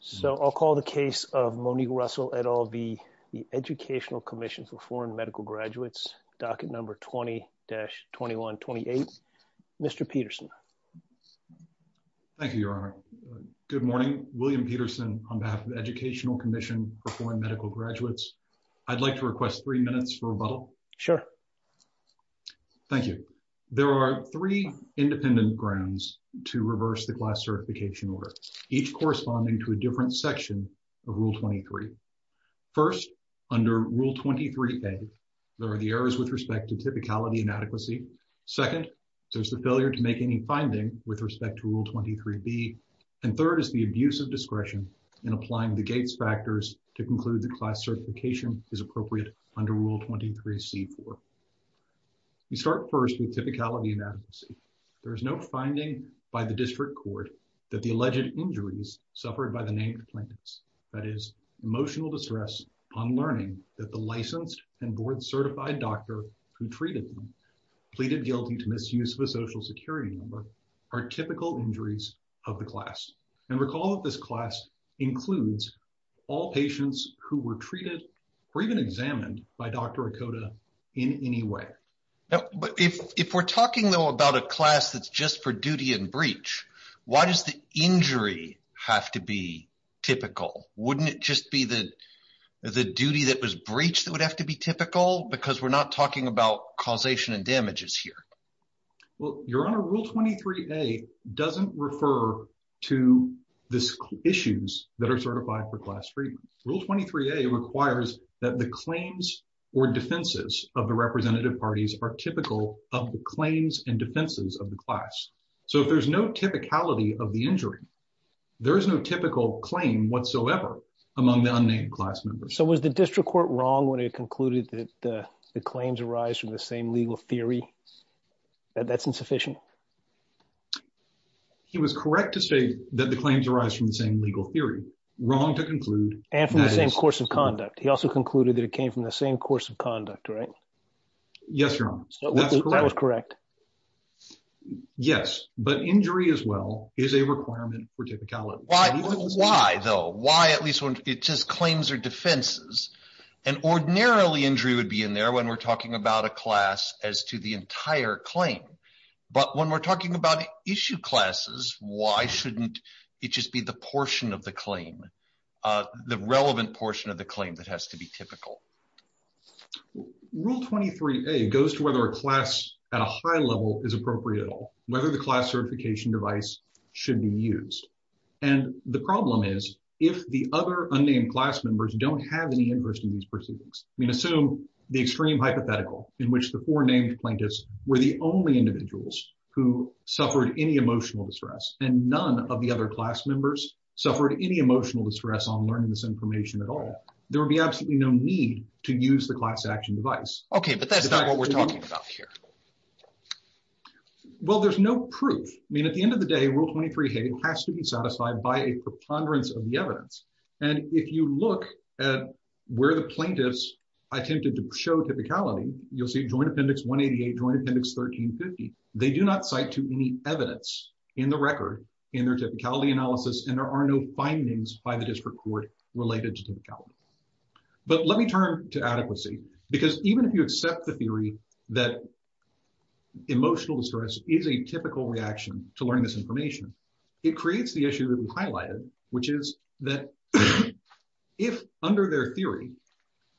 So I'll call the case of Monique Russell et al. v. the Educational Commission for Foreign Medical Graduates, docket number 20-2128. Mr. Peterson. Thank you, Your Honor. Good morning. William Peterson on behalf of the Educational Commission for Foreign Medical Graduates. I'd like to request three minutes for rebuttal. Sure. Thank you. There are three independent grounds to reverse the class certification order, each corresponding to a different section of Rule 23. First, under Rule 23a, there are the errors with respect to typicality and adequacy. Second, there's the failure to make any finding with respect to Rule 23b. And third is the abuse of discretion in applying the Gates factors to conclude that class certification is appropriate under Rule 23c-4. You start first with typicality and adequacy. There is no finding by the district court that the alleged injuries suffered by the named plaintiffs, that is, emotional distress on learning that the licensed and board-certified doctor who treated them pleaded guilty to misuse of a social security number, are typical injuries of the class. And recall that this class includes all patients who were treated or even examined by Dr. Okoda in any way. But if we're talking, though, about a class that's just for duty and breach, why does the injury have to be typical? Wouldn't it just be the duty that was breached that would have to be typical? Because we're not talking about causation and damages here. Well, Your Honor, Rule 23a doesn't refer to the issues that are certified for class treatment. Rule 23a requires that the claims or defenses of the representative parties are typical of the claims and defenses of the class. So if there's no typicality of the injury, there is no typical claim whatsoever among the unnamed class members. So was the district court wrong when it concluded that the claims arise from the same legal theory? That's insufficient. He was correct to say that the claims arise from the same legal theory. Wrong to conclude. And from the same course of conduct. He also concluded that it came from the same course of conduct, right? Yes, Your Honor, that's correct. That was correct. Yes, but injury as well is a requirement for typicality. Why, though? Why, at least when it says claims or defenses, an ordinarily injury would be in there when we're talking about a class as to the entire claim. But when we're talking about issue classes, why shouldn't it just be the portion of the claim, the relevant portion of the claim that has to be typical? Rule 23a goes to whether a class at a high level is appropriate at all, whether the class certification device should be used. And the problem is if the other unnamed class members don't have any interest in these were the only individuals who suffered any emotional distress and none of the other class members suffered any emotional distress on learning this information at all, there would be absolutely no need to use the class action device. OK, but that's not what we're talking about here. Well, there's no proof. I mean, at the end of the day, Rule 23a has to be satisfied by a preponderance of the evidence. And if you look at where the plaintiffs attempted to show typicality, you'll see Joint Appendix 188, Joint Appendix 1350. They do not cite to any evidence in the record in their typicality analysis, and there are no findings by the district court related to typicality. But let me turn to adequacy, because even if you accept the theory that emotional distress is a typical reaction to learning this information, it creates the issue that we highlighted, which is that if under their theory,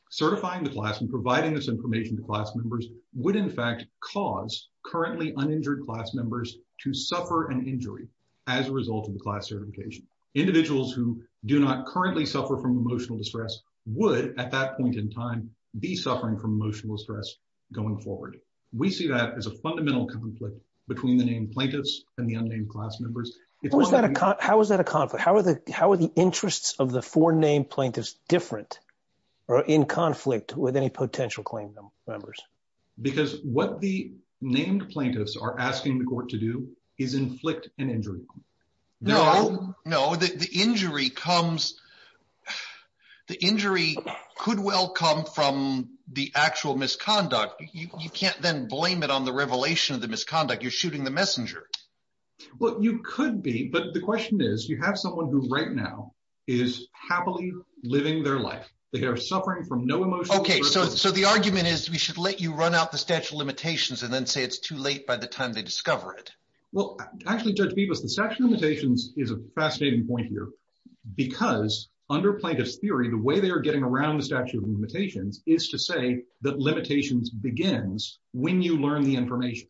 certifying the class and providing this information to class members would in fact cause currently uninjured class members to suffer an injury as a result of the class certification. Individuals who do not currently suffer from emotional distress would at that point in time be suffering from emotional distress going forward. We see that as a fundamental conflict between the named plaintiffs and the unnamed class members. How is that a conflict? How are the interests of the four named plaintiffs different? Or in conflict with any potential claim members? Because what the named plaintiffs are asking the court to do is inflict an injury. No, the injury could well come from the actual misconduct. You can't then blame it on the revelation of the misconduct. You're shooting the messenger. Well, you could be, but the question is, you have someone who right now is happily living their life. They are suffering from no emotional... Okay, so the argument is we should let you run out the statute of limitations and then say it's too late by the time they discover it. Well, actually, Judge Bibas, the statute of limitations is a fascinating point here because under plaintiff's theory, the way they are getting around the statute of limitations is to say that limitations begins when you learn the information.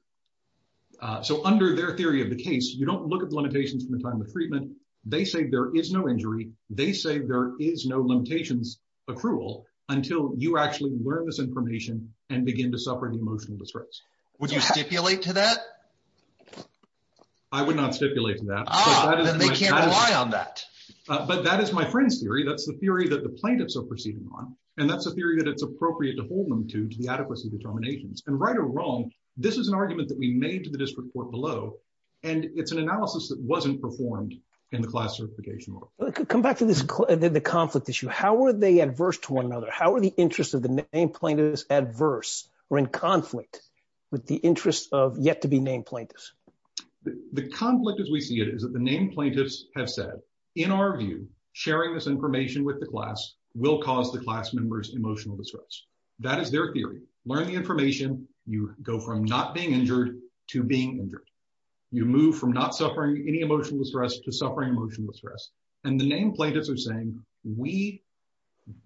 So under their theory of the case, you don't look at the limitations from the time of treatment. They say there is no injury. They say there is no limitations accrual until you actually learn this information and begin to suffer an emotional distress. Would you stipulate to that? I would not stipulate to that. Ah, then they can't rely on that. But that is my friend's theory. That's the theory that the plaintiffs are proceeding on. And that's a theory that it's appropriate to hold them to the adequacy determinations. And right or wrong, this is an argument that we made to the district court below. And it's an analysis that wasn't performed in the class certification. Come back to the conflict issue. How are they adverse to one another? How are the interests of the named plaintiffs adverse or in conflict with the interests of yet to be named plaintiffs? The conflict as we see it is that the named plaintiffs have said, in our view, sharing this information with the class will cause the class members emotional distress. That is their theory. Learn the information. You go from not being injured to being injured. You move from not suffering any emotional distress to suffering emotional distress. And the named plaintiffs are saying, we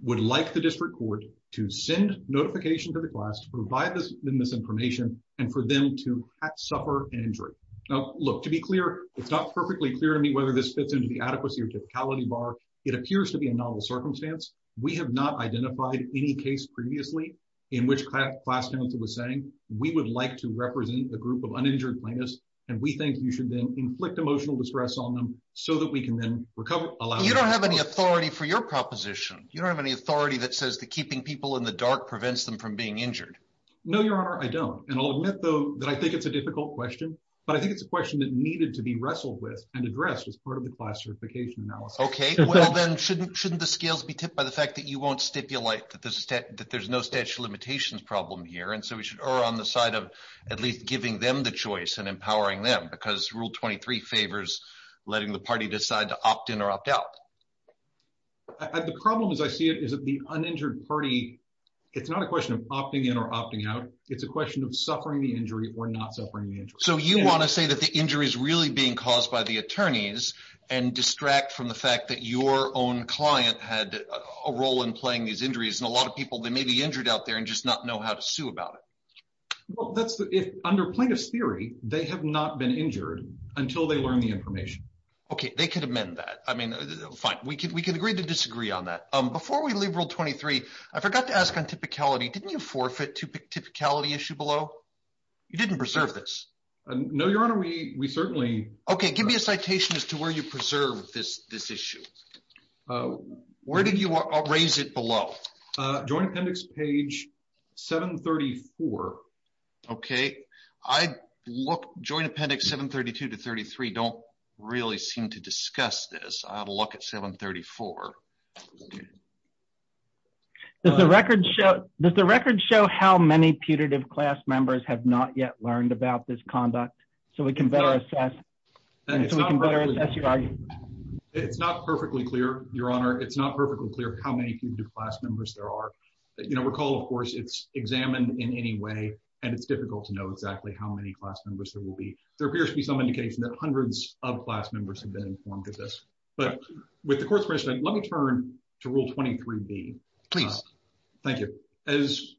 would like the district court to send notification to the class to provide them this information and for them to not suffer an injury. Now, look, to be clear, it's not perfectly clear to me whether this fits into the adequacy or typicality bar. It appears to be a novel circumstance. We have not identified any case previously in which class counsel was saying, we would like to represent a group of uninjured plaintiffs and we think you should then inflict emotional distress on them so that we can then recover. You don't have any authority for your proposition. You don't have any authority that says that keeping people in the dark prevents them from being injured. No, Your Honor, I don't. And I'll admit, though, that I think it's a difficult question, but I think it's a question that needed to be wrestled with and addressed as part of the classification analysis. OK, well, then shouldn't the scales be tipped by the fact that you won't stipulate that there's no statute of limitations problem here. And so we should err on the side of at least giving them the choice and empowering them because Rule 23 favors letting the party decide to opt in or opt out. The problem, as I see it, is that the uninjured party, it's not a question of opting in or opting out. It's a question of suffering the injury or not suffering the injury. So you want to say that the injury is really being caused by the attorneys and distract from the fact that your own client had a role in playing these injuries and a lot of people, they may be injured out there and just not know how to sue about it. Well, that's if under plaintiff's theory, they have not been injured until they learn the information. OK, they could amend that. I mean, fine, we can we can agree to disagree on that. Before we leave Rule 23, I forgot to ask on typicality. Didn't you forfeit to pick typicality issue below? You didn't preserve this. No, Your Honor, we certainly. OK, give me a citation as to where you preserve this issue. Where did you raise it below? Joint Appendix Page 734. OK, I look Joint Appendix 732 to 33 don't really seem to discuss this. I have a look at 734. Does the record show does the record show how many putative class members have not yet learned about this conduct so we can better assess? It's not perfectly clear, Your Honor. It's not perfectly clear how many putative class members there are. Recall, of course, it's examined in any way, and it's difficult to know exactly how many class members there will be. There appears to be some indication that hundreds of class members have been informed of this. But with the court's permission, let me turn to Rule 23B. Please. Thank you. As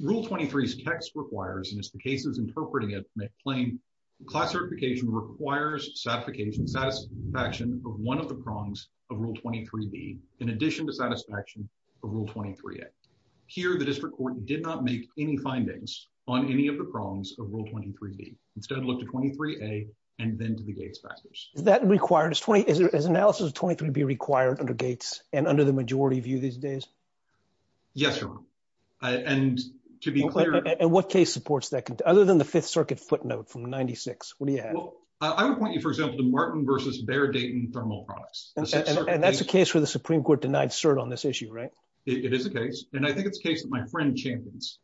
Rule 23's text requires, and as the case is interpreting it plain, class certification requires satisfaction of one of the prongs of Rule 23B in addition to satisfaction of Rule 23A. Here, the district court did not make any findings on any of the prongs of Rule 23B. Instead, look to 23A and then to the Gates factors. Is that required? Is analysis of 23B required under Gates and under the majority view these days? Yes, Your Honor. And to be clear. And what case supports that? Other than the Fifth Circuit footnote from 96, what do you have? I would point you, for example, to Martin versus Bear Dayton thermal products. And that's a case where the Supreme Court denied cert on this issue, right? It is a case. And I think it's a case that my friend champions.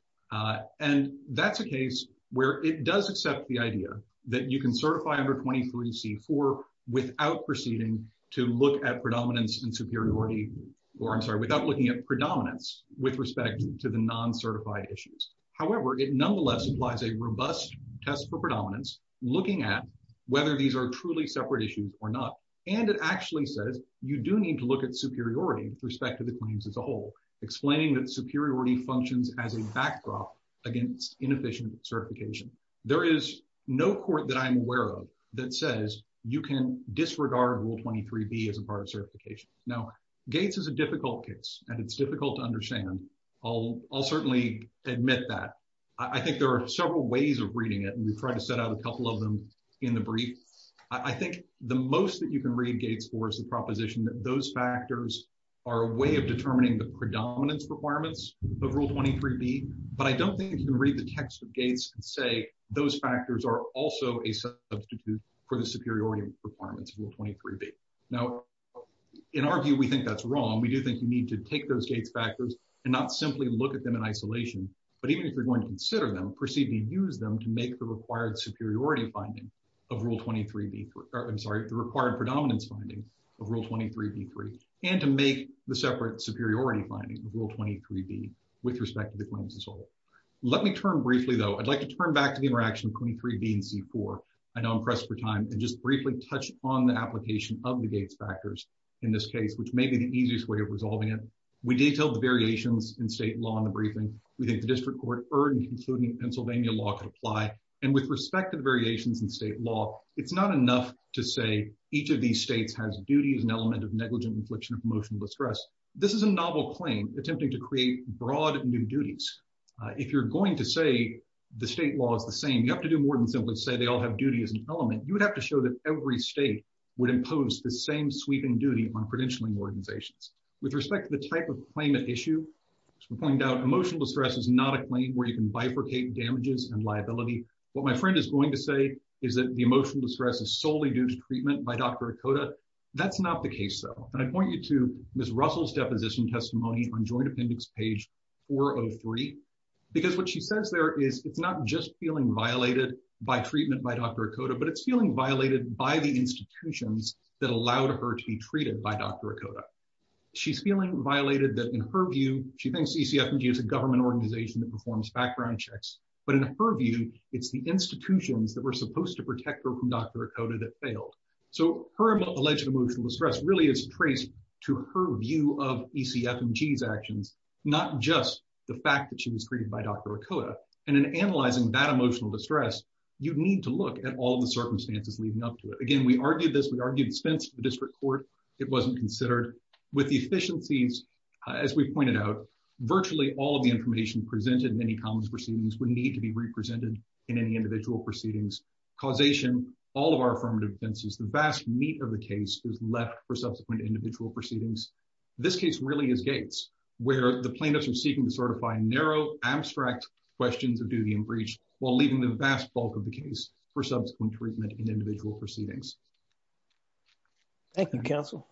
And that's a case where it does accept the idea that you can certify under 23C4 without proceeding to look at predominance and superiority, or I'm sorry, without looking at predominance with respect to the non-certified issues. However, it nonetheless implies a robust test for predominance looking at whether these are truly separate issues or not. And it actually says you do need to look at superiority with respect to the claims as a whole, explaining that superiority functions as a backdrop against inefficient certification. There is no court that I'm aware of that says you can disregard Rule 23B as a part of certification. Now, Gates is a difficult case, and it's difficult to understand. I'll certainly admit that. I think there are several ways of reading it, and we've tried to set out a couple of them in the brief. I think the most that you can read Gates for is the proposition that those factors are a way of determining the predominance requirements of Rule 23B. But I don't think you can read the text of Gates and say those factors are also a substitute for the superiority requirements of Rule 23B. Now, in our view, we think that's wrong. We do think you need to take those Gates factors and not simply look at them in isolation. But even if you're going to consider them, proceed to use them to make the required superiority finding of Rule 23B, I'm sorry, the required predominance finding of Rule 23B-3, and to make the separate superiority finding of Rule 23B with respect to the claims as a whole. Let me turn briefly, though, I'd like to turn back to the interaction of 23B and C-4. I know I'm pressed for time, and just briefly touch on the application of the Gates factors in this case, which may be the easiest way of resolving it. We detailed the variations in state law in the briefing. We think the district court heard and concluded Pennsylvania law could apply. And with respect to the variations in state law, it's not enough to say each of these states has duty as an element of negligent infliction of emotional distress. This is a novel claim attempting to create broad new duties. If you're going to say the state law is the same, you have to do more than simply say they all have duty as an element. You would have to show that every state would impose the same sweeping duty on credentialing organizations. With respect to the type of claim at issue, to point out emotional distress is not a claim where you can bifurcate damages and liability. What my friend is going to say is that the emotional distress is solely due to treatment by Dr. Okoda. That's not the case, though. And I point you to Ms. Russell's deposition testimony on joint appendix page 403, because what she says there is it's not just feeling violated by treatment by Dr. Okoda, but it's feeling violated by the institutions that allowed her to be treated by Dr. Okoda. She's feeling violated that, in her view, she thinks ECFMG is a government organization that performs background checks. But in her view, it's the institutions that were supposed to protect her from Dr. Okoda that failed. So her alleged emotional distress really is traced to her view of ECFMG's actions, not just the fact that she was treated by Dr. Okoda. And in analyzing that emotional distress, you need to look at all the circumstances leading up to it. Again, we argued this. We argued it's fenced to the district court. It wasn't considered. With the efficiencies, as we pointed out, virtually all of the information presented in any commons proceedings would need to be represented in any individual proceedings. Causation, all of our affirmative offenses, the vast meat of the case is left for subsequent individual proceedings. This case really is Gates, where the plaintiffs are seeking to certify narrow, abstract questions of duty and breach while leaving the vast bulk of the case for subsequent treatment in individual proceedings. Thank you, counsel.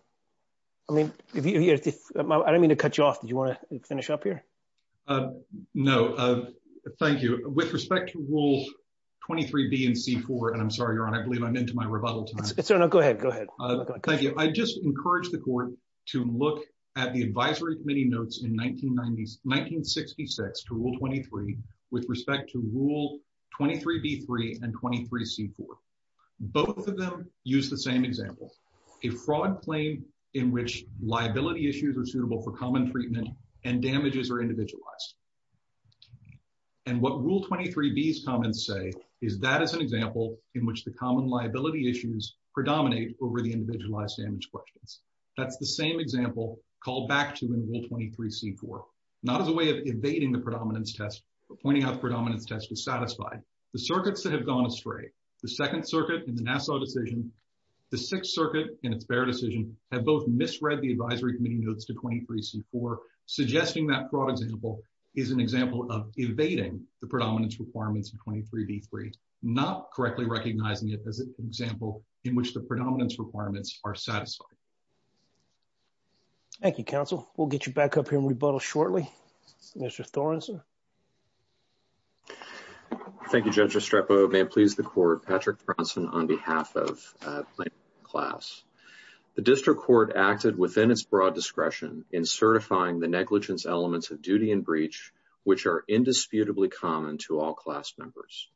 I mean, I don't mean to cut you off. Do you want to finish up here? No, thank you. With respect to Rule 23B and C4, and I'm sorry, Your Honor, I believe I'm into my rebuttal time. No, go ahead. Go ahead. Thank you. I just encourage the court to look at the advisory committee notes in 1966 to Rule 23 with respect to Rule 23B3 and 23C4. Both of them use the same example, a fraud claim in which liability issues are suitable for common treatment and damages are individualized. And what Rule 23B's comments say is that is an example in which the common liability issues predominate over the individualized damage questions. That's the same example called back to in Rule 23C4, not as a way of evading the predominance test, but pointing out the predominance test is satisfied. The circuits that have gone astray, the Second Circuit in the Nassau decision, the Sixth Circuit in its Baird decision, have both misread the advisory committee notes to 23C4, suggesting that fraud example is an example of evading the predominance requirements in 23B3, not correctly recognizing it as an example in which the predominance requirements are satisfied. Thank you, counsel. We'll get you back up here and rebuttal shortly. Mr. Thornson. Thank you, Judge Estrepo. May it please the court. Patrick Thornson on behalf of my class. The district court acted within its broad discretion in certifying the negligence elements of duty and breach, which are indisputably common to all class members.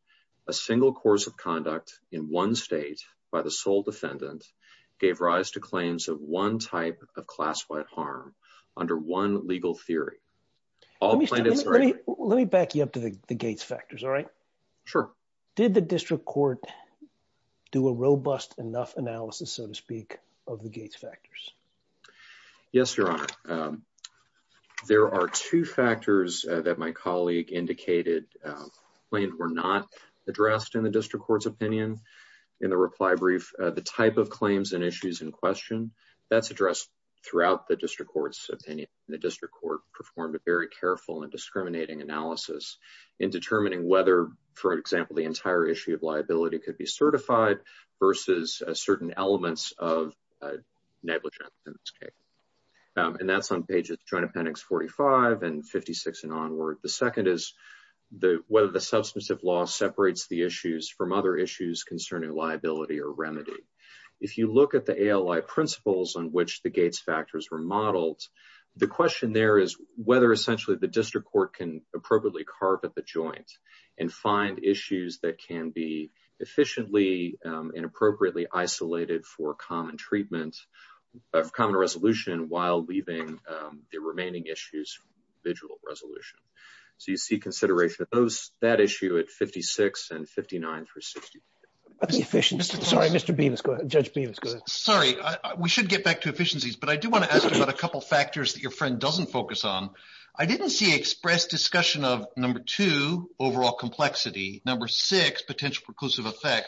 A single course of conduct in one state by the sole defendant gave rise to claims of one type of class-wide harm under one legal theory. Let me back you up to the Gates factors, all right? Sure. Did the district court do a robust enough analysis, so to speak, of the Gates factors? Yes, Your Honor. There are two factors that my colleague indicated were not addressed in the district court's opinion in the reply brief. The type of claims and issues in question, that's addressed throughout the district court's opinion. The district court performed a very careful and discriminating analysis in determining whether, for example, the entire issue of liability could be certified versus certain elements of negligence in this case. And that's on pages Joint Appendix 45 and 56 and onward. The second is whether the substantive law separates the issues from other issues concerning liability or remedy. If you look at the ALI principles on which the Gates factors were modeled, the question there is whether essentially the district court can appropriately carp at the joint and find issues that can be efficiently and appropriately isolated for common treatment of common resolution while leaving the remaining issues for individual resolution. So you see consideration of that issue at 56 and 59 through 62. Sorry, Mr. Bemis, go ahead. Judge Bemis, go ahead. Sorry, we should get back to efficiencies. But I do want to ask about a couple factors that your friend doesn't focus on. I didn't see expressed discussion of number two, overall complexity, number six, potential effect,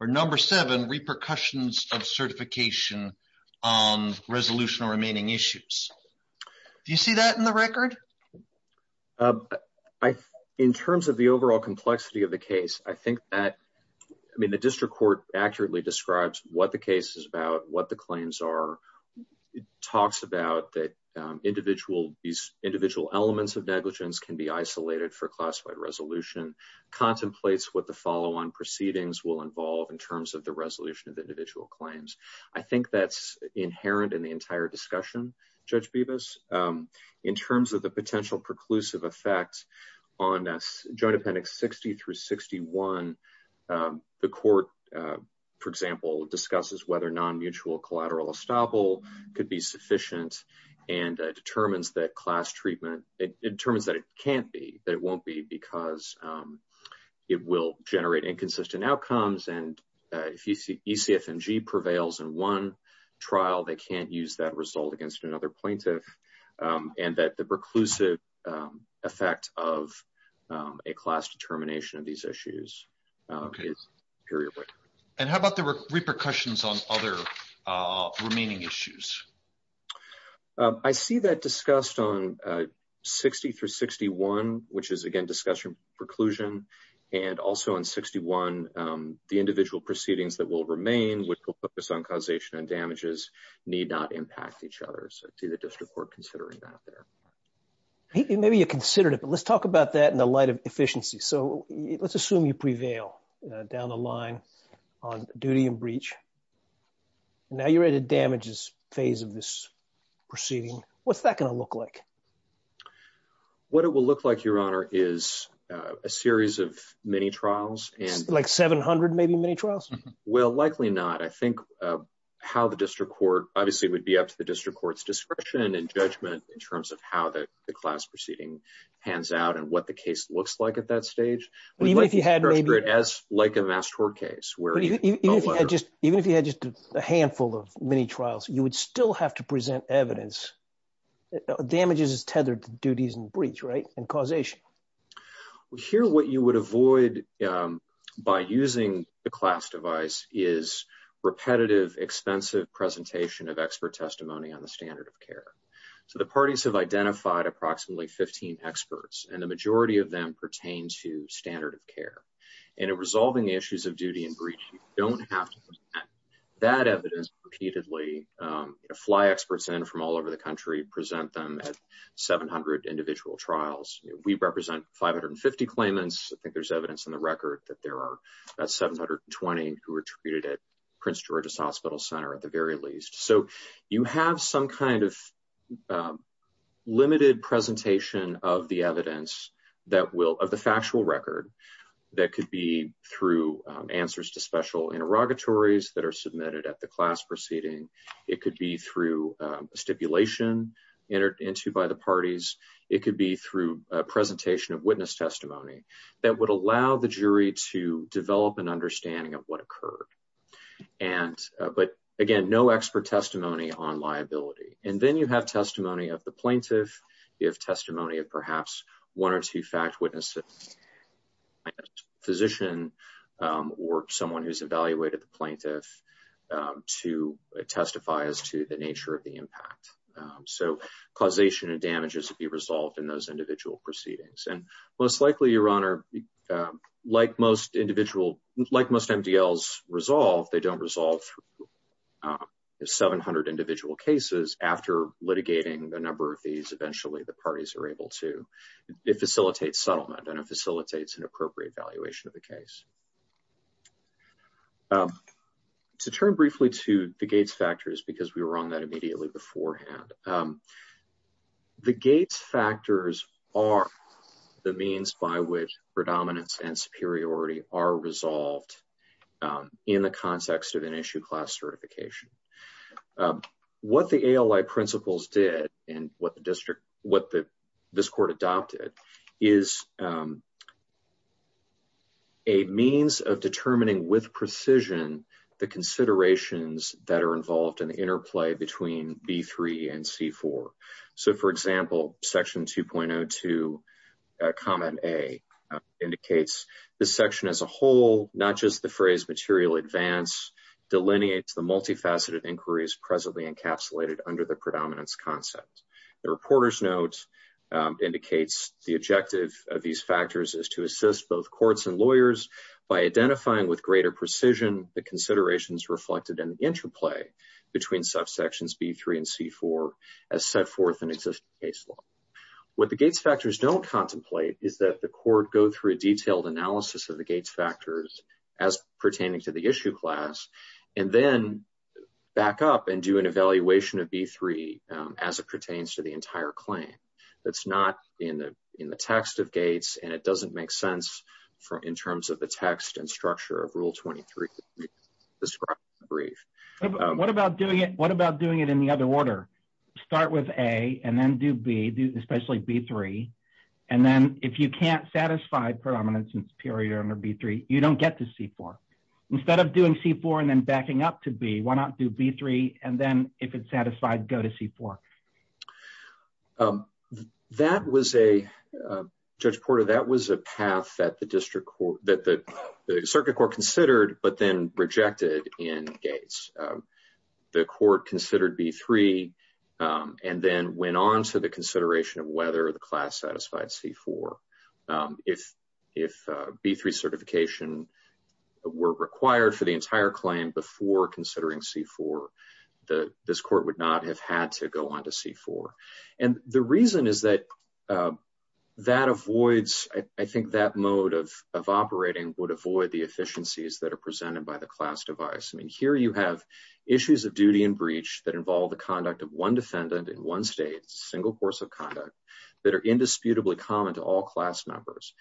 or number seven, repercussions of certification on resolution or remaining issues. Do you see that in the record? In terms of the overall complexity of the case, I think that, I mean, the district court accurately describes what the case is about, what the claims are. It talks about that individual, these individual elements of negligence can be isolated for proceedings will involve in terms of the resolution of individual claims. I think that's inherent in the entire discussion, Judge Bemis. In terms of the potential preclusive effect on joint appendix 60 through 61, the court, for example, discusses whether non-mutual collateral estoppel could be sufficient and determines that class treatment, it determines that it can't be, that it won't be because it will generate inconsistent outcomes. And if you see ECFMG prevails in one trial, they can't use that result against another plaintiff and that the preclusive effect of a class determination of these issues. And how about the repercussions on other remaining issues? I see that discussed on 60 through 61, which is, again, discussion preclusion. And also on 61, the individual proceedings that will remain, which will focus on causation and damages, need not impact each other. So to the district court, considering that there. Maybe you considered it, but let's talk about that in the light of efficiency. So let's assume you prevail down the line on duty and breach. Now you're at a damages phase of this proceeding. What's that going to look like? What it will look like, Your Honor, is a series of many trials. Like 700, maybe, many trials? Well, likely not. I think how the district court, obviously, it would be up to the district court's discretion and judgment in terms of how the class proceeding hands out and what the case looks like at that stage. Even if you had maybe. Like a mass tort case. Even if you had just a handful of many trials, you would still have to present evidence. Damages is tethered to duties and breach, right? And causation. Here, what you would avoid by using the class device is repetitive, expensive presentation of expert testimony on the standard of care. So the parties have identified approximately 15 experts, and the majority of them pertain to standard of care. And in resolving issues of duty and breach, you don't have to present that evidence repeatedly. Fly experts in from all over the country present them at 700 individual trials. We represent 550 claimants. I think there's evidence in the record that there are about 720 who were treated at Prince George's Hospital Center, at the very least. So you have some kind of limited presentation of the evidence that will, of the factual record that could be through answers to special interrogatories that are submitted at the class proceeding. It could be through stipulation entered into by the parties. It could be through a presentation of witness testimony that would allow the jury to develop an understanding of what occurred. And, but again, no expert testimony on liability. And then you have testimony of the plaintiff. You have testimony of perhaps one or two fact witnesses, physician, or someone who's evaluated the plaintiff to testify as to the nature of the impact. So causation and damages would be resolved in those individual proceedings. And most likely, Your Honor, like most MDLs resolve, they don't resolve 700 individual cases. After litigating the number of these, eventually the parties are able to facilitate settlement and it facilitates an appropriate valuation of the case. To turn briefly to the Gates factors, because we were on that immediately beforehand, the means by which predominance and superiority are resolved in the context of an issue class certification. What the ALI principles did and what the district, what the, this court adopted is a means of determining with precision, the considerations that are involved in the interplay between B3 and C4. So for example, section 2.02, comment A indicates the section as a whole, not just the phrase material advance delineates the multifaceted inquiries presently encapsulated under the predominance concept. The reporter's notes indicates the objective of these factors is to assist both courts and lawyers by identifying with greater precision, the considerations reflected in the interplay between subsections B3 and C4 as set forth in existing case law. What the Gates factors don't contemplate is that the court go through a detailed analysis of the Gates factors as pertaining to the issue class, and then back up and do an evaluation of B3 as it pertains to the entire claim. That's not in the text of Gates and it doesn't make sense in terms of the text and structure of rule 23 described in the brief. What about doing it? What about doing it in the other order? Start with A and then do B, especially B3. And then if you can't satisfy predominance and superior under B3, you don't get to C4. Instead of doing C4 and then backing up to B, why not do B3? And then if it's satisfied, go to C4. That was a, Judge Porter, that was a path that the district court, that the circuit court considered, but then rejected in Gates. The court considered B3 and then went on to the consideration of whether the class satisfied C4. If B3 certification were required for the entire claim before considering C4, this court would not have had to go on to C4. And the reason is that that avoids, I think that mode of operating would It would have to be a little bit different in terms of the efficiencies that are presented by the class device. I mean, here you have issues of duty and breach that involve the conduct of one defendant in one state, a single course of conduct that are indisputably common to all class members.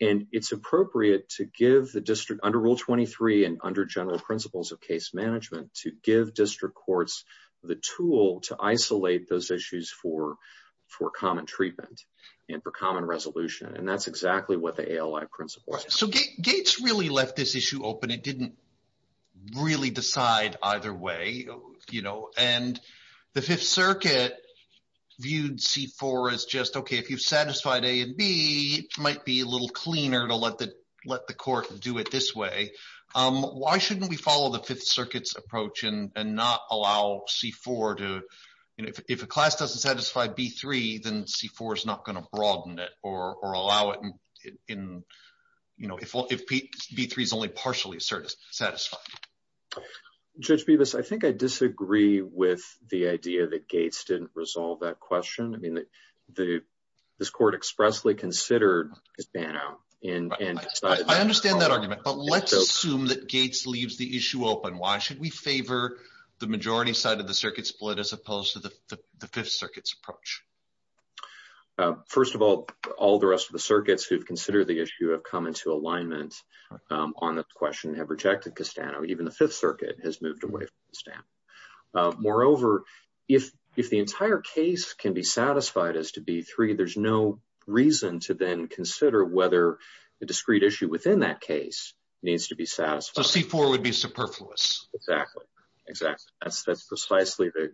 And it's appropriate to give the district under rule 23 and under general principles of case management to give district courts the tool to isolate those issues for common treatment and for common resolution. And that's exactly what the ALI principle. So Gates really left this issue open. It didn't really decide either way, you know, and the Fifth Circuit viewed C4 as just, okay, if you've satisfied A and B, it might be a little cleaner to let the court do it this way. Why shouldn't we follow the Fifth Circuit's approach and not allow C4 to, you know, if a class doesn't satisfy B3, then C4 is not going to broaden it or allow it in, you know, if B3 is only partially satisfied. Judge Bevis, I think I disagree with the idea that Gates didn't resolve that question. I mean, this court expressly considered his ban out. I understand that argument, but let's assume that Gates leaves the issue open. Should we favor the majority side of the circuit split as opposed to the Fifth Circuit's approach? First of all, all the rest of the circuits who've considered the issue have come into alignment on the question, have rejected Castano. Even the Fifth Circuit has moved away from Castano. Moreover, if the entire case can be satisfied as to B3, there's no reason to then consider whether the discrete issue within that case needs to be satisfied. So C4 would be superfluous. Exactly, exactly. That's precisely the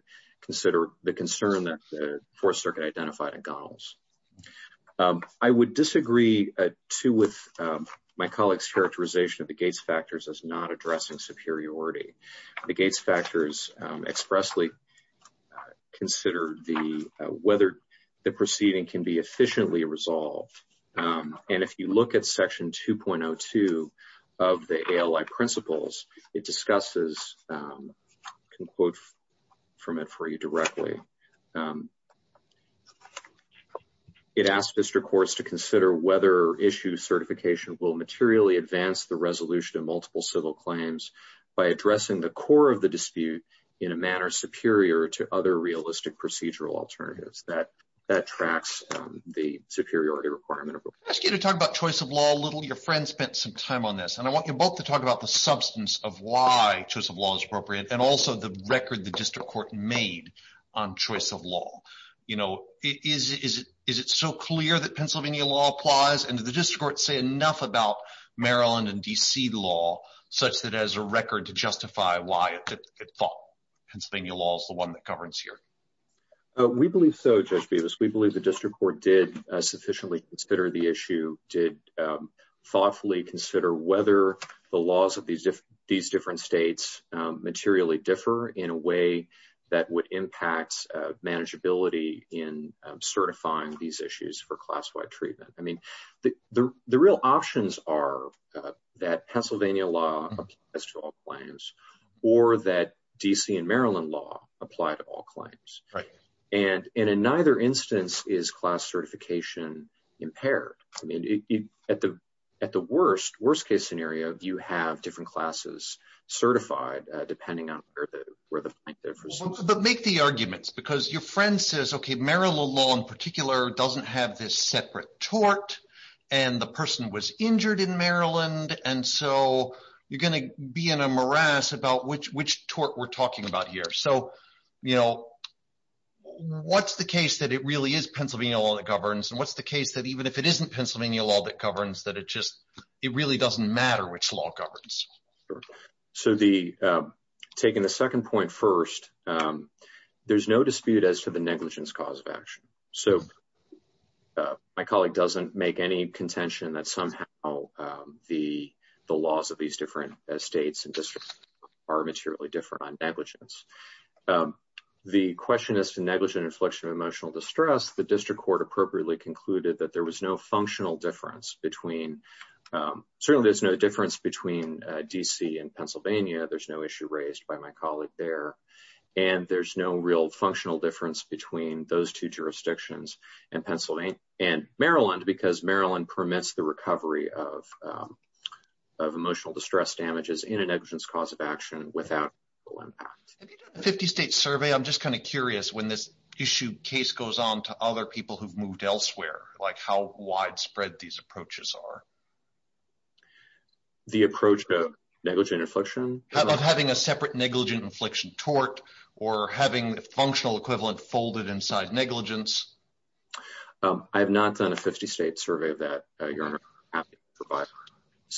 concern that the Fourth Circuit identified in Gunnels. I would disagree, too, with my colleague's characterization of the Gates factors as not addressing superiority. The Gates factors expressly consider whether the proceeding can be efficiently resolved. And if you look at section 2.02 of the ALI principles, it discusses, I can quote from it for you directly. It asks district courts to consider whether issue certification will materially advance the resolution of multiple civil claims by addressing the core of the dispute in a manner superior to other realistic procedural alternatives. That tracks the superiority requirement. I'm going to ask you to talk about choice of law a little. Your friend spent some time on this. And I want you both to talk about the substance of why choice of law is appropriate and also the record the district court made on choice of law. Is it so clear that Pennsylvania law applies? And does the district court say enough about Maryland and D.C. law such that it has a record to justify why it thought Pennsylvania law is the one that governs here? We believe so. Judge Bevis, we believe the district court did sufficiently consider the issue, did thoughtfully consider whether the laws of these different states materially differ in a way that would impact manageability in certifying these issues for class-wide treatment. I mean, the real options are that Pennsylvania law applies to all claims or that D.C. and and in neither instance is class certification impaired. I mean, at the at the worst, worst case scenario, you have different classes certified depending on where the where the. But make the arguments because your friend says, OK, Maryland law in particular doesn't have this separate tort and the person was injured in Maryland. And so you're going to be in a morass about which which tort we're talking about here. So, you know, what's the case that it really is Pennsylvania law that governs and what's the case that even if it isn't Pennsylvania law that governs that it just it really doesn't matter which law governs. So the taking the second point first, there's no dispute as to the negligence cause of action. So my colleague doesn't make any contention that somehow the the laws of these different states and districts are materially different on negligence. The question is to negligent inflection of emotional distress. The district court appropriately concluded that there was no functional difference between certainly there's no difference between D.C. and Pennsylvania. There's no issue raised by my colleague there. And there's no real functional difference between those two jurisdictions and Pennsylvania and Maryland, because Maryland permits the recovery of of emotional distress damages in a negligence cause of action without impact. Have you done a 50 state survey? I'm just kind of curious when this issue case goes on to other people who've moved elsewhere, like how widespread these approaches are. The approach to negligent inflection. How about having a separate negligent inflection tort or having the functional equivalent folded inside negligence? I have not done a 50 state survey of that.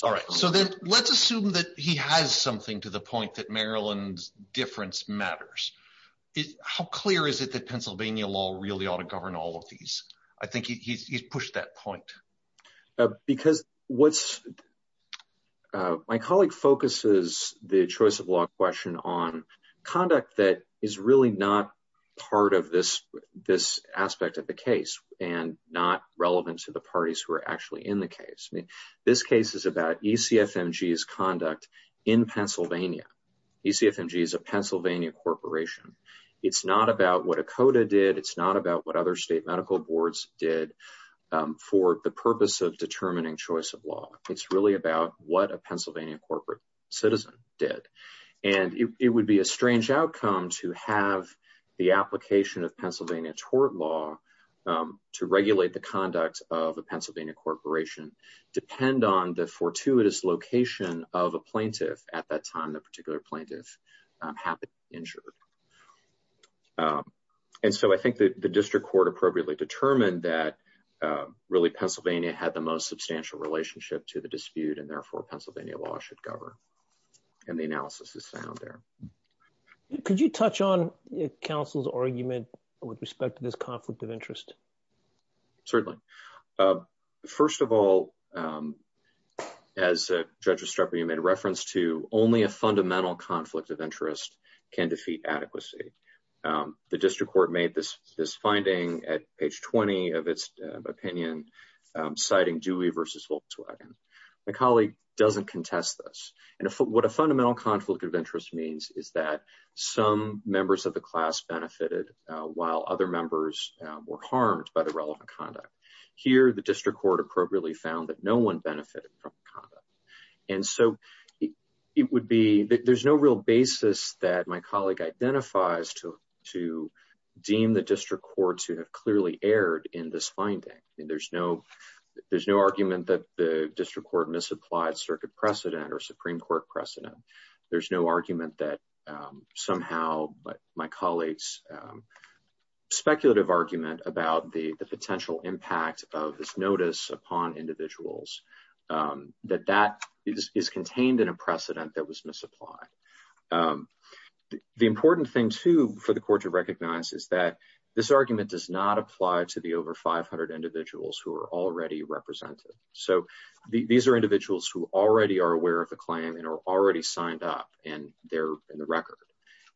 All right, so then let's assume that he has something to the point that Maryland's difference matters. How clear is it that Pennsylvania law really ought to govern all of these? I think he's pushed that point. Because what's my colleague focuses the choice of law question on conduct that is really not part of this this aspect of the case and not relevant to the parties who are actually in the case. This case is about E.C.F.M.G.'s conduct in Pennsylvania. E.C.F.M.G. is a Pennsylvania corporation. It's not about what ACOTA did. It's not about what other state medical boards did for the purpose of determining choice of law. It's really about what a Pennsylvania corporate citizen did. And it would be a strange outcome to have the application of Pennsylvania tort law to regulate the conduct of a Pennsylvania corporation depend on the fortuitous location of a plaintiff at that time. The particular plaintiff happened to be injured. And so I think the district court appropriately determined that really Pennsylvania had the most substantial relationship to the dispute and therefore Pennsylvania law should govern. And the analysis is sound there. Could you touch on counsel's argument with respect to this conflict of interest? Certainly. First of all, as Judge Estrepo made reference to, only a fundamental conflict of interest can defeat adequacy. The district court made this finding at page 20 of its opinion, citing Dewey versus Volkswagen. My colleague doesn't contest this. And what a fundamental conflict of interest means is that some members of the class benefited while other members were harmed by the relevant conduct. Here, the district court appropriately found that no one benefited from the conduct. And so there's no real basis that my colleague identifies to deem the district courts who have clearly erred in this finding. There's no argument that the district court misapplied circuit precedent or Supreme Court precedent. There's no argument that somehow my colleague's speculative argument about the potential impact of this notice upon individuals, that that is contained in a precedent that was misapplied. The important thing, too, for the court to recognize is that this argument does not apply to the over 500 individuals who are already represented. So these are individuals who already are aware of the claim and are already signed up and they're in the record.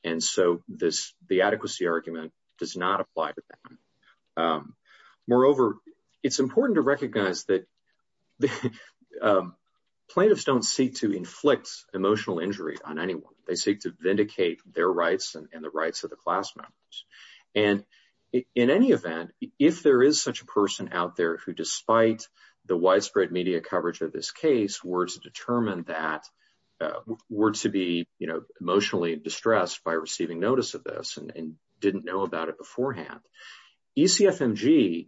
And so the adequacy argument does not apply to them. Moreover, it's important to recognize that plaintiffs don't seek to inflict emotional injury on anyone. They seek to vindicate their rights and the rights of the class members. And in any event, if there is such a person out there who, despite the widespread media coverage of this case, were to determine that, were to be emotionally distressed by receiving notice of this and didn't know about it beforehand, ECFMG,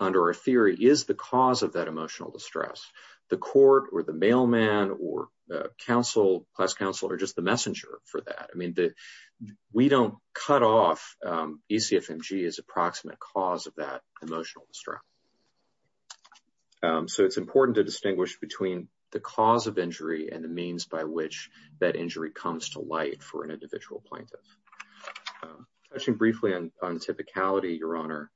under our theory, is the cause of that emotional distress. The court or the mailman or class counsel are just the messenger for that. I mean, we don't cut off ECFMG as approximate cause of that emotional distress. So it's important to distinguish between the cause of injury and the means by which that injury comes to light for an individual plaintiff. Touching briefly on typicality, Your Honor,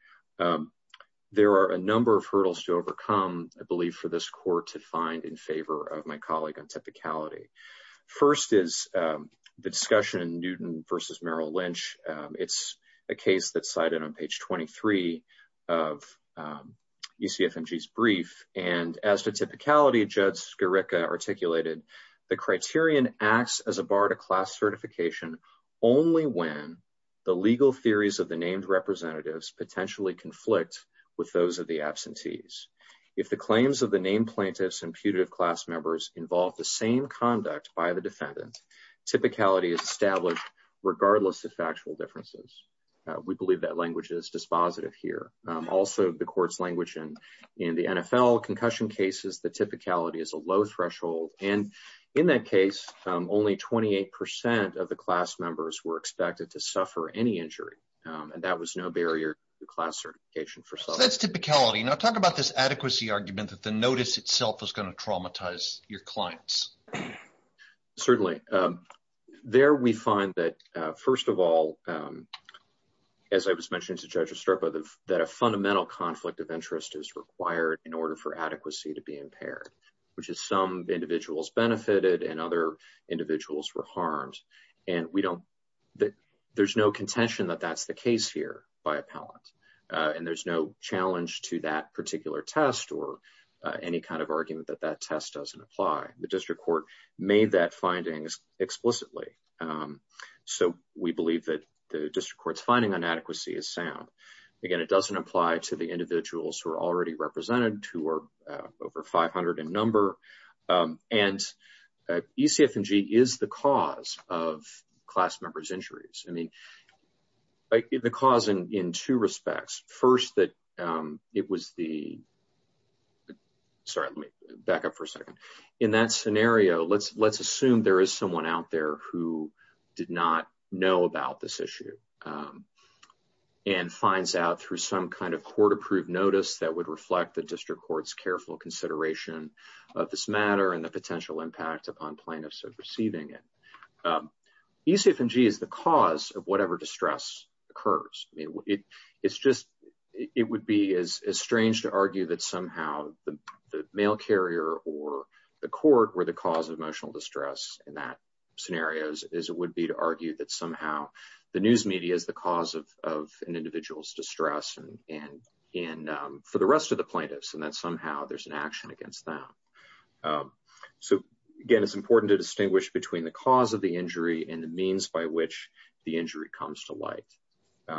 there are a number of hurdles to overcome, I believe, for this court to find in favor of my colleague on typicality. First is the discussion in Newton v. Merrill Lynch. It's a case that's cited on page 23 of ECFMG's brief. And as to typicality, Judge Skirica articulated, the criterion acts as a bar to class certification only when the legal theories of the named representatives potentially conflict with those of the absentees. If the claims of the named plaintiffs and putative class members involve the same conduct by the defendant, typicality is established regardless of factual differences. We believe that language is dispositive here. Also, the court's language in the NFL concussion cases, the typicality is a low threshold. And in that case, only 28% of the class members were expected to suffer any injury. And that was no barrier to class certification for some. So that's typicality. Now talk about this adequacy argument that the notice itself is going to traumatize your clients. Certainly. There we find that, first of all, as I was mentioning to Judge Estropa, that a fundamental conflict of interest is required in order for adequacy to be impaired, which is some individuals benefited and other individuals were harmed. And there's no contention that that's the case here by appellant. And there's no challenge to that particular test or any kind of argument that that test doesn't apply. The district court made that findings explicitly. So we believe that the district court's finding on adequacy is sound. Again, it doesn't apply to the individuals who are already represented, who are over 500 in number. And ECF&G is the cause of class members' injuries. I mean, the cause in two respects. First, that it was the... Sorry, let me back up for a second. In that scenario, let's assume there is someone out there who did not know about this issue and finds out through some kind of court-approved notice that would reflect the district court's consideration of this matter and the potential impact upon plaintiffs of receiving it. ECF&G is the cause of whatever distress occurs. It's just, it would be as strange to argue that somehow the mail carrier or the court were the cause of emotional distress in that scenario as it would be to argue that somehow the news media is the cause of an individual's distress for the rest of the plaintiffs. And that somehow there's an action against them. So again, it's important to distinguish between the cause of the injury and the means by which the injury comes to light.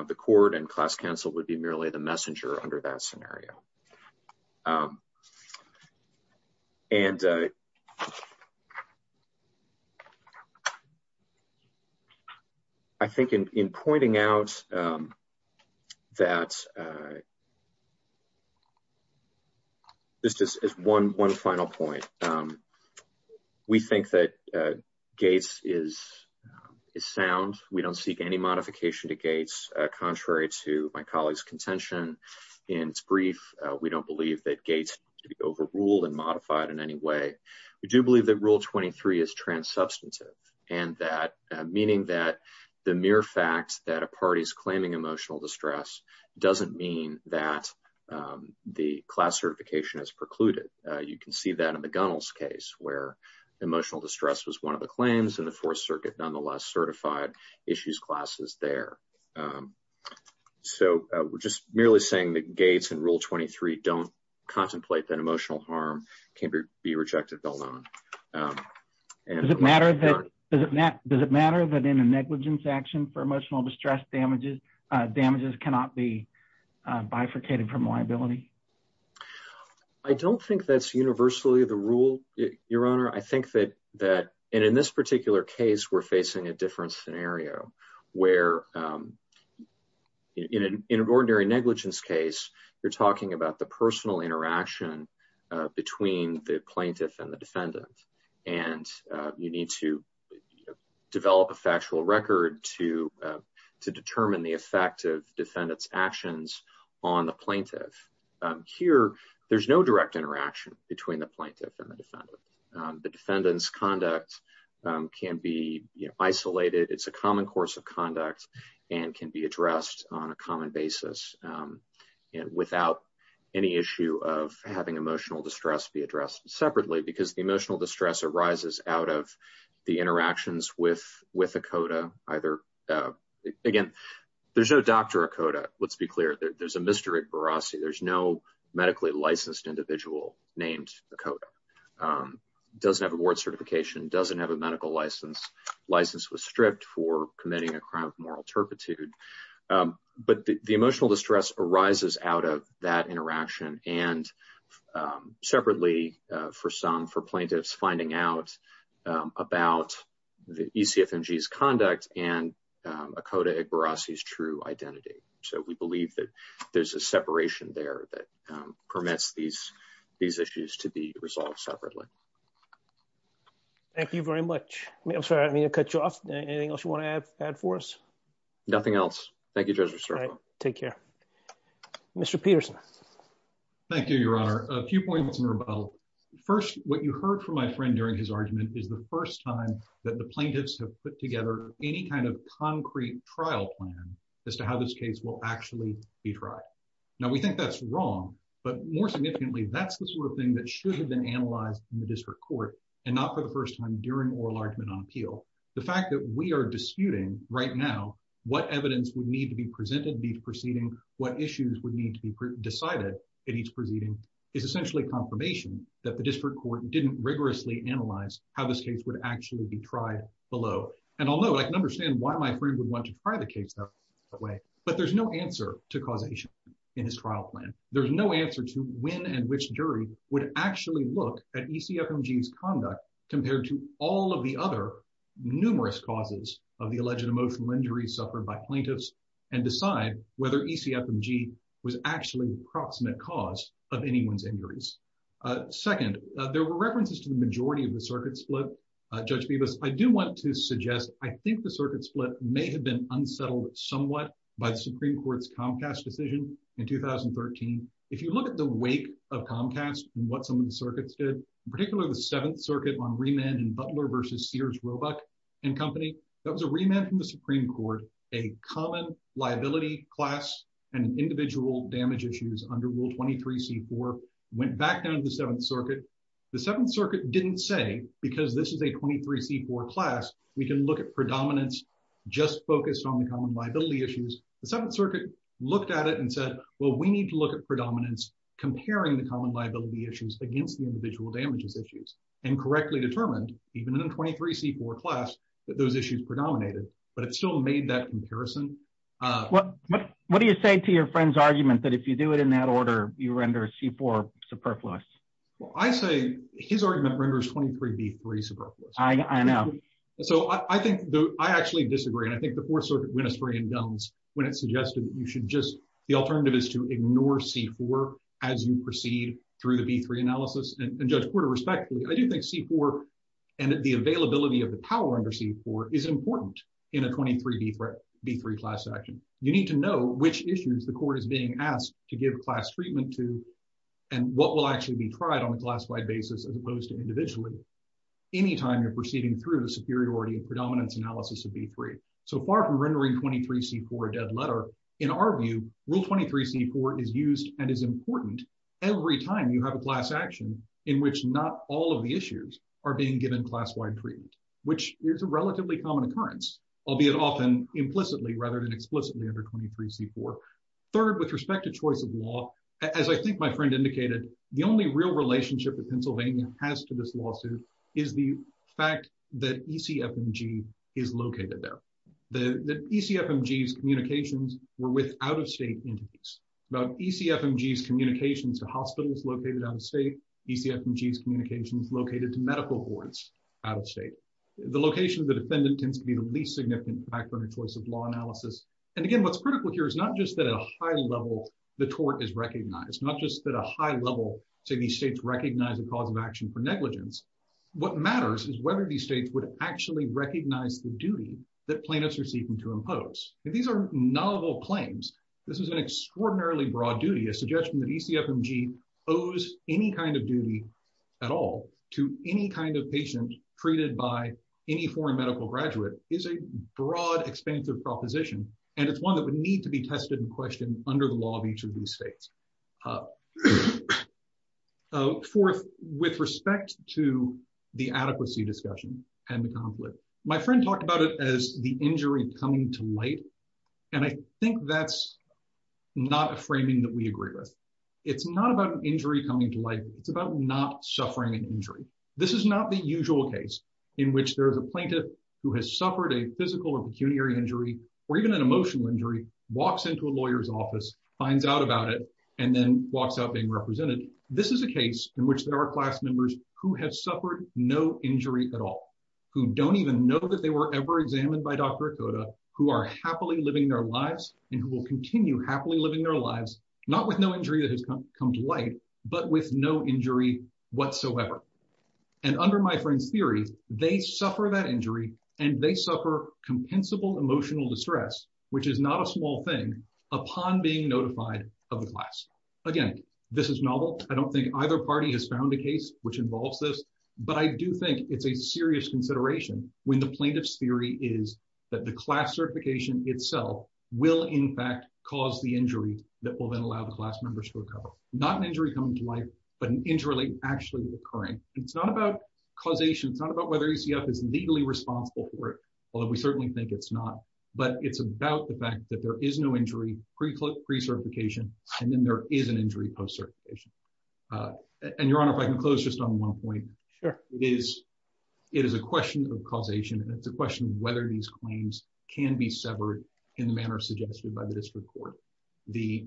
The court and class counsel would be merely the messenger under that scenario. And I think in pointing out that... This is one final point. We think that Gates is sound. We don't seek any modification to Gates contrary to my colleague's contention in its brief we don't believe that Gates to be overruled and modified in any way. We do believe that Rule 23 is transubstantive and that meaning that the mere fact that a party's claiming emotional distress doesn't mean that the class certification is precluded. You can see that in the Gunnels case where emotional distress was one of the claims and the Fourth Circuit nonetheless certified issues classes there. So we're just merely saying that Gates and Rule 23 don't contemplate that emotional harm can be rejected alone. Does it matter that in a negligence action for emotional distress damages cannot be bifurcated from liability? I don't think that's universally the rule, Your Honor. I think that in this particular case, we're facing a different scenario where in an ordinary negligence case, you're talking about the personal interaction between the plaintiff and the defendant and you need to develop a factual record to determine the effect of defendant's actions on the plaintiff. Here, there's no direct interaction between the plaintiff and the defendant. The defendant's conduct can be isolated. It's a common course of conduct and can be addressed on a common basis without any issue of having emotional distress be addressed separately because the emotional distress arises out of the interactions with ACOTA. Again, there's no Dr. ACOTA. Let's be clear. There's a Mr. Igbarrasi. There's no medically licensed individual named ACOTA, doesn't have a board certification, doesn't have a medical license. License was stripped for committing a crime of moral turpitude. But the emotional distress arises out of that interaction and separately for plaintiffs finding out about the ECFMG's conduct and ACOTA Igbarrasi's true identity. So we believe that there's a separation there that permits these issues to be resolved separately. Thank you very much. I'm sorry. I didn't mean to cut you off. Anything else you want to add for us? Nothing else. Thank you, Judge Restrepo. Take care. Mr. Peterson. Thank you, Your Honor. A few points in rebuttal. First, what you heard from my friend during his argument is the first time that the plaintiffs have put together any kind of concrete trial plan as to how this case will actually be tried. Now, we think that's wrong, but more significantly, that's the sort of thing that should have been done during oral argument on appeal. The fact that we are disputing right now what evidence would need to be presented in each proceeding, what issues would need to be decided in each proceeding, is essentially confirmation that the district court didn't rigorously analyze how this case would actually be tried below. And although I can understand why my friend would want to try the case that way, but there's no answer to causation in his trial plan. There's no answer to when and which jury would actually look at ECFMG's conduct compared to all of the other numerous causes of the alleged emotional injuries suffered by plaintiffs and decide whether ECFMG was actually the proximate cause of anyone's injuries. Second, there were references to the majority of the circuit split. Judge Bebas, I do want to suggest I think the circuit split may have been unsettled somewhat by the Supreme Court's Comcast decision in 2013. If you look at the wake of Comcast and what some of the circuits did, in particular the Seventh Circuit on remand and Butler versus Sears Roebuck and Company, that was a remand from the Supreme Court. A common liability class and individual damage issues under Rule 23C4 went back down to the Seventh Circuit. The Seventh Circuit didn't say, because this is a 23C4 class, we can look at predominance just focused on the common liability issues. The Seventh Circuit looked at it and said, well, we need to look at predominance comparing the common liability issues against the individual damages issues and correctly determined, even in a 23C4 class, that those issues predominated. But it still made that comparison. What do you say to your friend's argument that if you do it in that order, you render a C4 superfluous? Well, I say his argument renders 23B3 superfluous. I know. So I actually disagree. And I think the Fourth Circuit went astray in Dunn's when it suggested you should just, the alternative is to ignore C4 as you proceed through the B3 analysis. And Judge Porter, respectfully, I do think C4 and the availability of the power under C4 is important in a 23B3 class action. You need to know which issues the court is being asked to give class treatment to and what will actually be tried on a classified basis as opposed to individually any time you're proceeding through the superiority and predominance analysis of B3. So far from rendering 23C4 a dead letter, in our view, Rule 23C4 is used and is important every time you have a class action in which not all of the issues are being given class-wide treatment, which is a relatively common occurrence, albeit often implicitly rather than explicitly under 23C4. Third, with respect to choice of law, as I think my friend indicated, the only real relationship that Pennsylvania has to this lawsuit is the fact that ECFMG is located there. The ECFMG's communications were with out-of-state entities. About ECFMG's communications to hospitals located out-of-state, ECFMG's communications located to medical boards out-of-state. The location of the defendant tends to be the least significant factor in a choice of law analysis. And again, what's critical here is not just that at a high level, the tort is recognized, not just that at a high level, say, these states recognize the cause of action for negligence. What matters is whether these states would actually recognize the duty that plaintiffs are seeking to impose. These are novel claims. This is an extraordinarily broad duty. A suggestion that ECFMG owes any kind of duty at all to any kind of patient treated by any foreign medical graduate is a broad, expansive proposition, and it's one that would need to be tested and questioned under the law of each of these states. Fourth, with respect to the adequacy discussion and the conflict, my friend talked about it as the injury coming to light, and I think that's not a framing that we agree with. It's not about an injury coming to light. It's about not suffering an injury. This is not the usual case in which there is a plaintiff who has suffered a physical or pecuniary injury or even an emotional injury, walks into a lawyer's office, finds out about it, and then walks out being represented. This is a case in which there are class members who have suffered no injury at all, who don't even know that they were ever examined by Dr. Okoda, who are happily living their lives and who will continue happily living their lives, not with no injury that has come to light, but with no injury whatsoever. And under my friend's theory, they suffer that injury and they suffer compensable emotional distress, which is not a small thing, upon being notified of the class. Again, this is novel. I don't think either party has found a case which involves this, but I do think it's a serious consideration when the plaintiff's theory is that the class certification itself will in fact cause the injury that will then allow the class members to recover. Not an injury coming to light, but an injury actually occurring. It's not about causation. It's not about whether UCF is legally responsible for it, although we certainly think it's not, but it's about the fact that there is no injury, pre-certification, and then there is an injury post-certification. And Your Honor, if I can close just on one point. Sure. It is a question of causation and it's a question of whether these claims can be severed in the manner suggested by the district court. The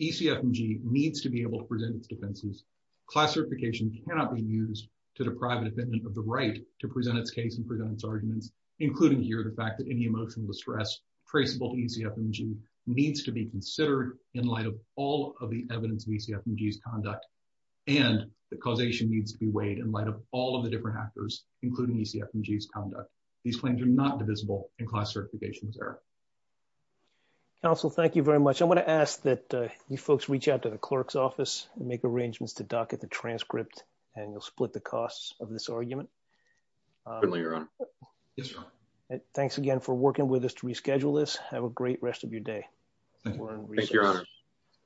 ECFMG needs to be able to present its defenses. Class certification cannot be used to deprive a defendant of the right to present its case and present its arguments, including here the fact that any emotional distress traceable to ECFMG needs to be considered in light of all of the evidence of ECFMG's conduct and the causation needs to be weighed in light of all of the different actors, including ECFMG's conduct. These claims are not divisible in class certification's error. Counsel, thank you very much. I want to ask that you folks reach out to the clerk's office and make arrangements to docket the transcript and you'll split the costs of this argument. Certainly, Your Honor. Yes, Your Honor. Thanks again for working with us to reschedule this. Have a great rest of your day. Thank you, Your Honor.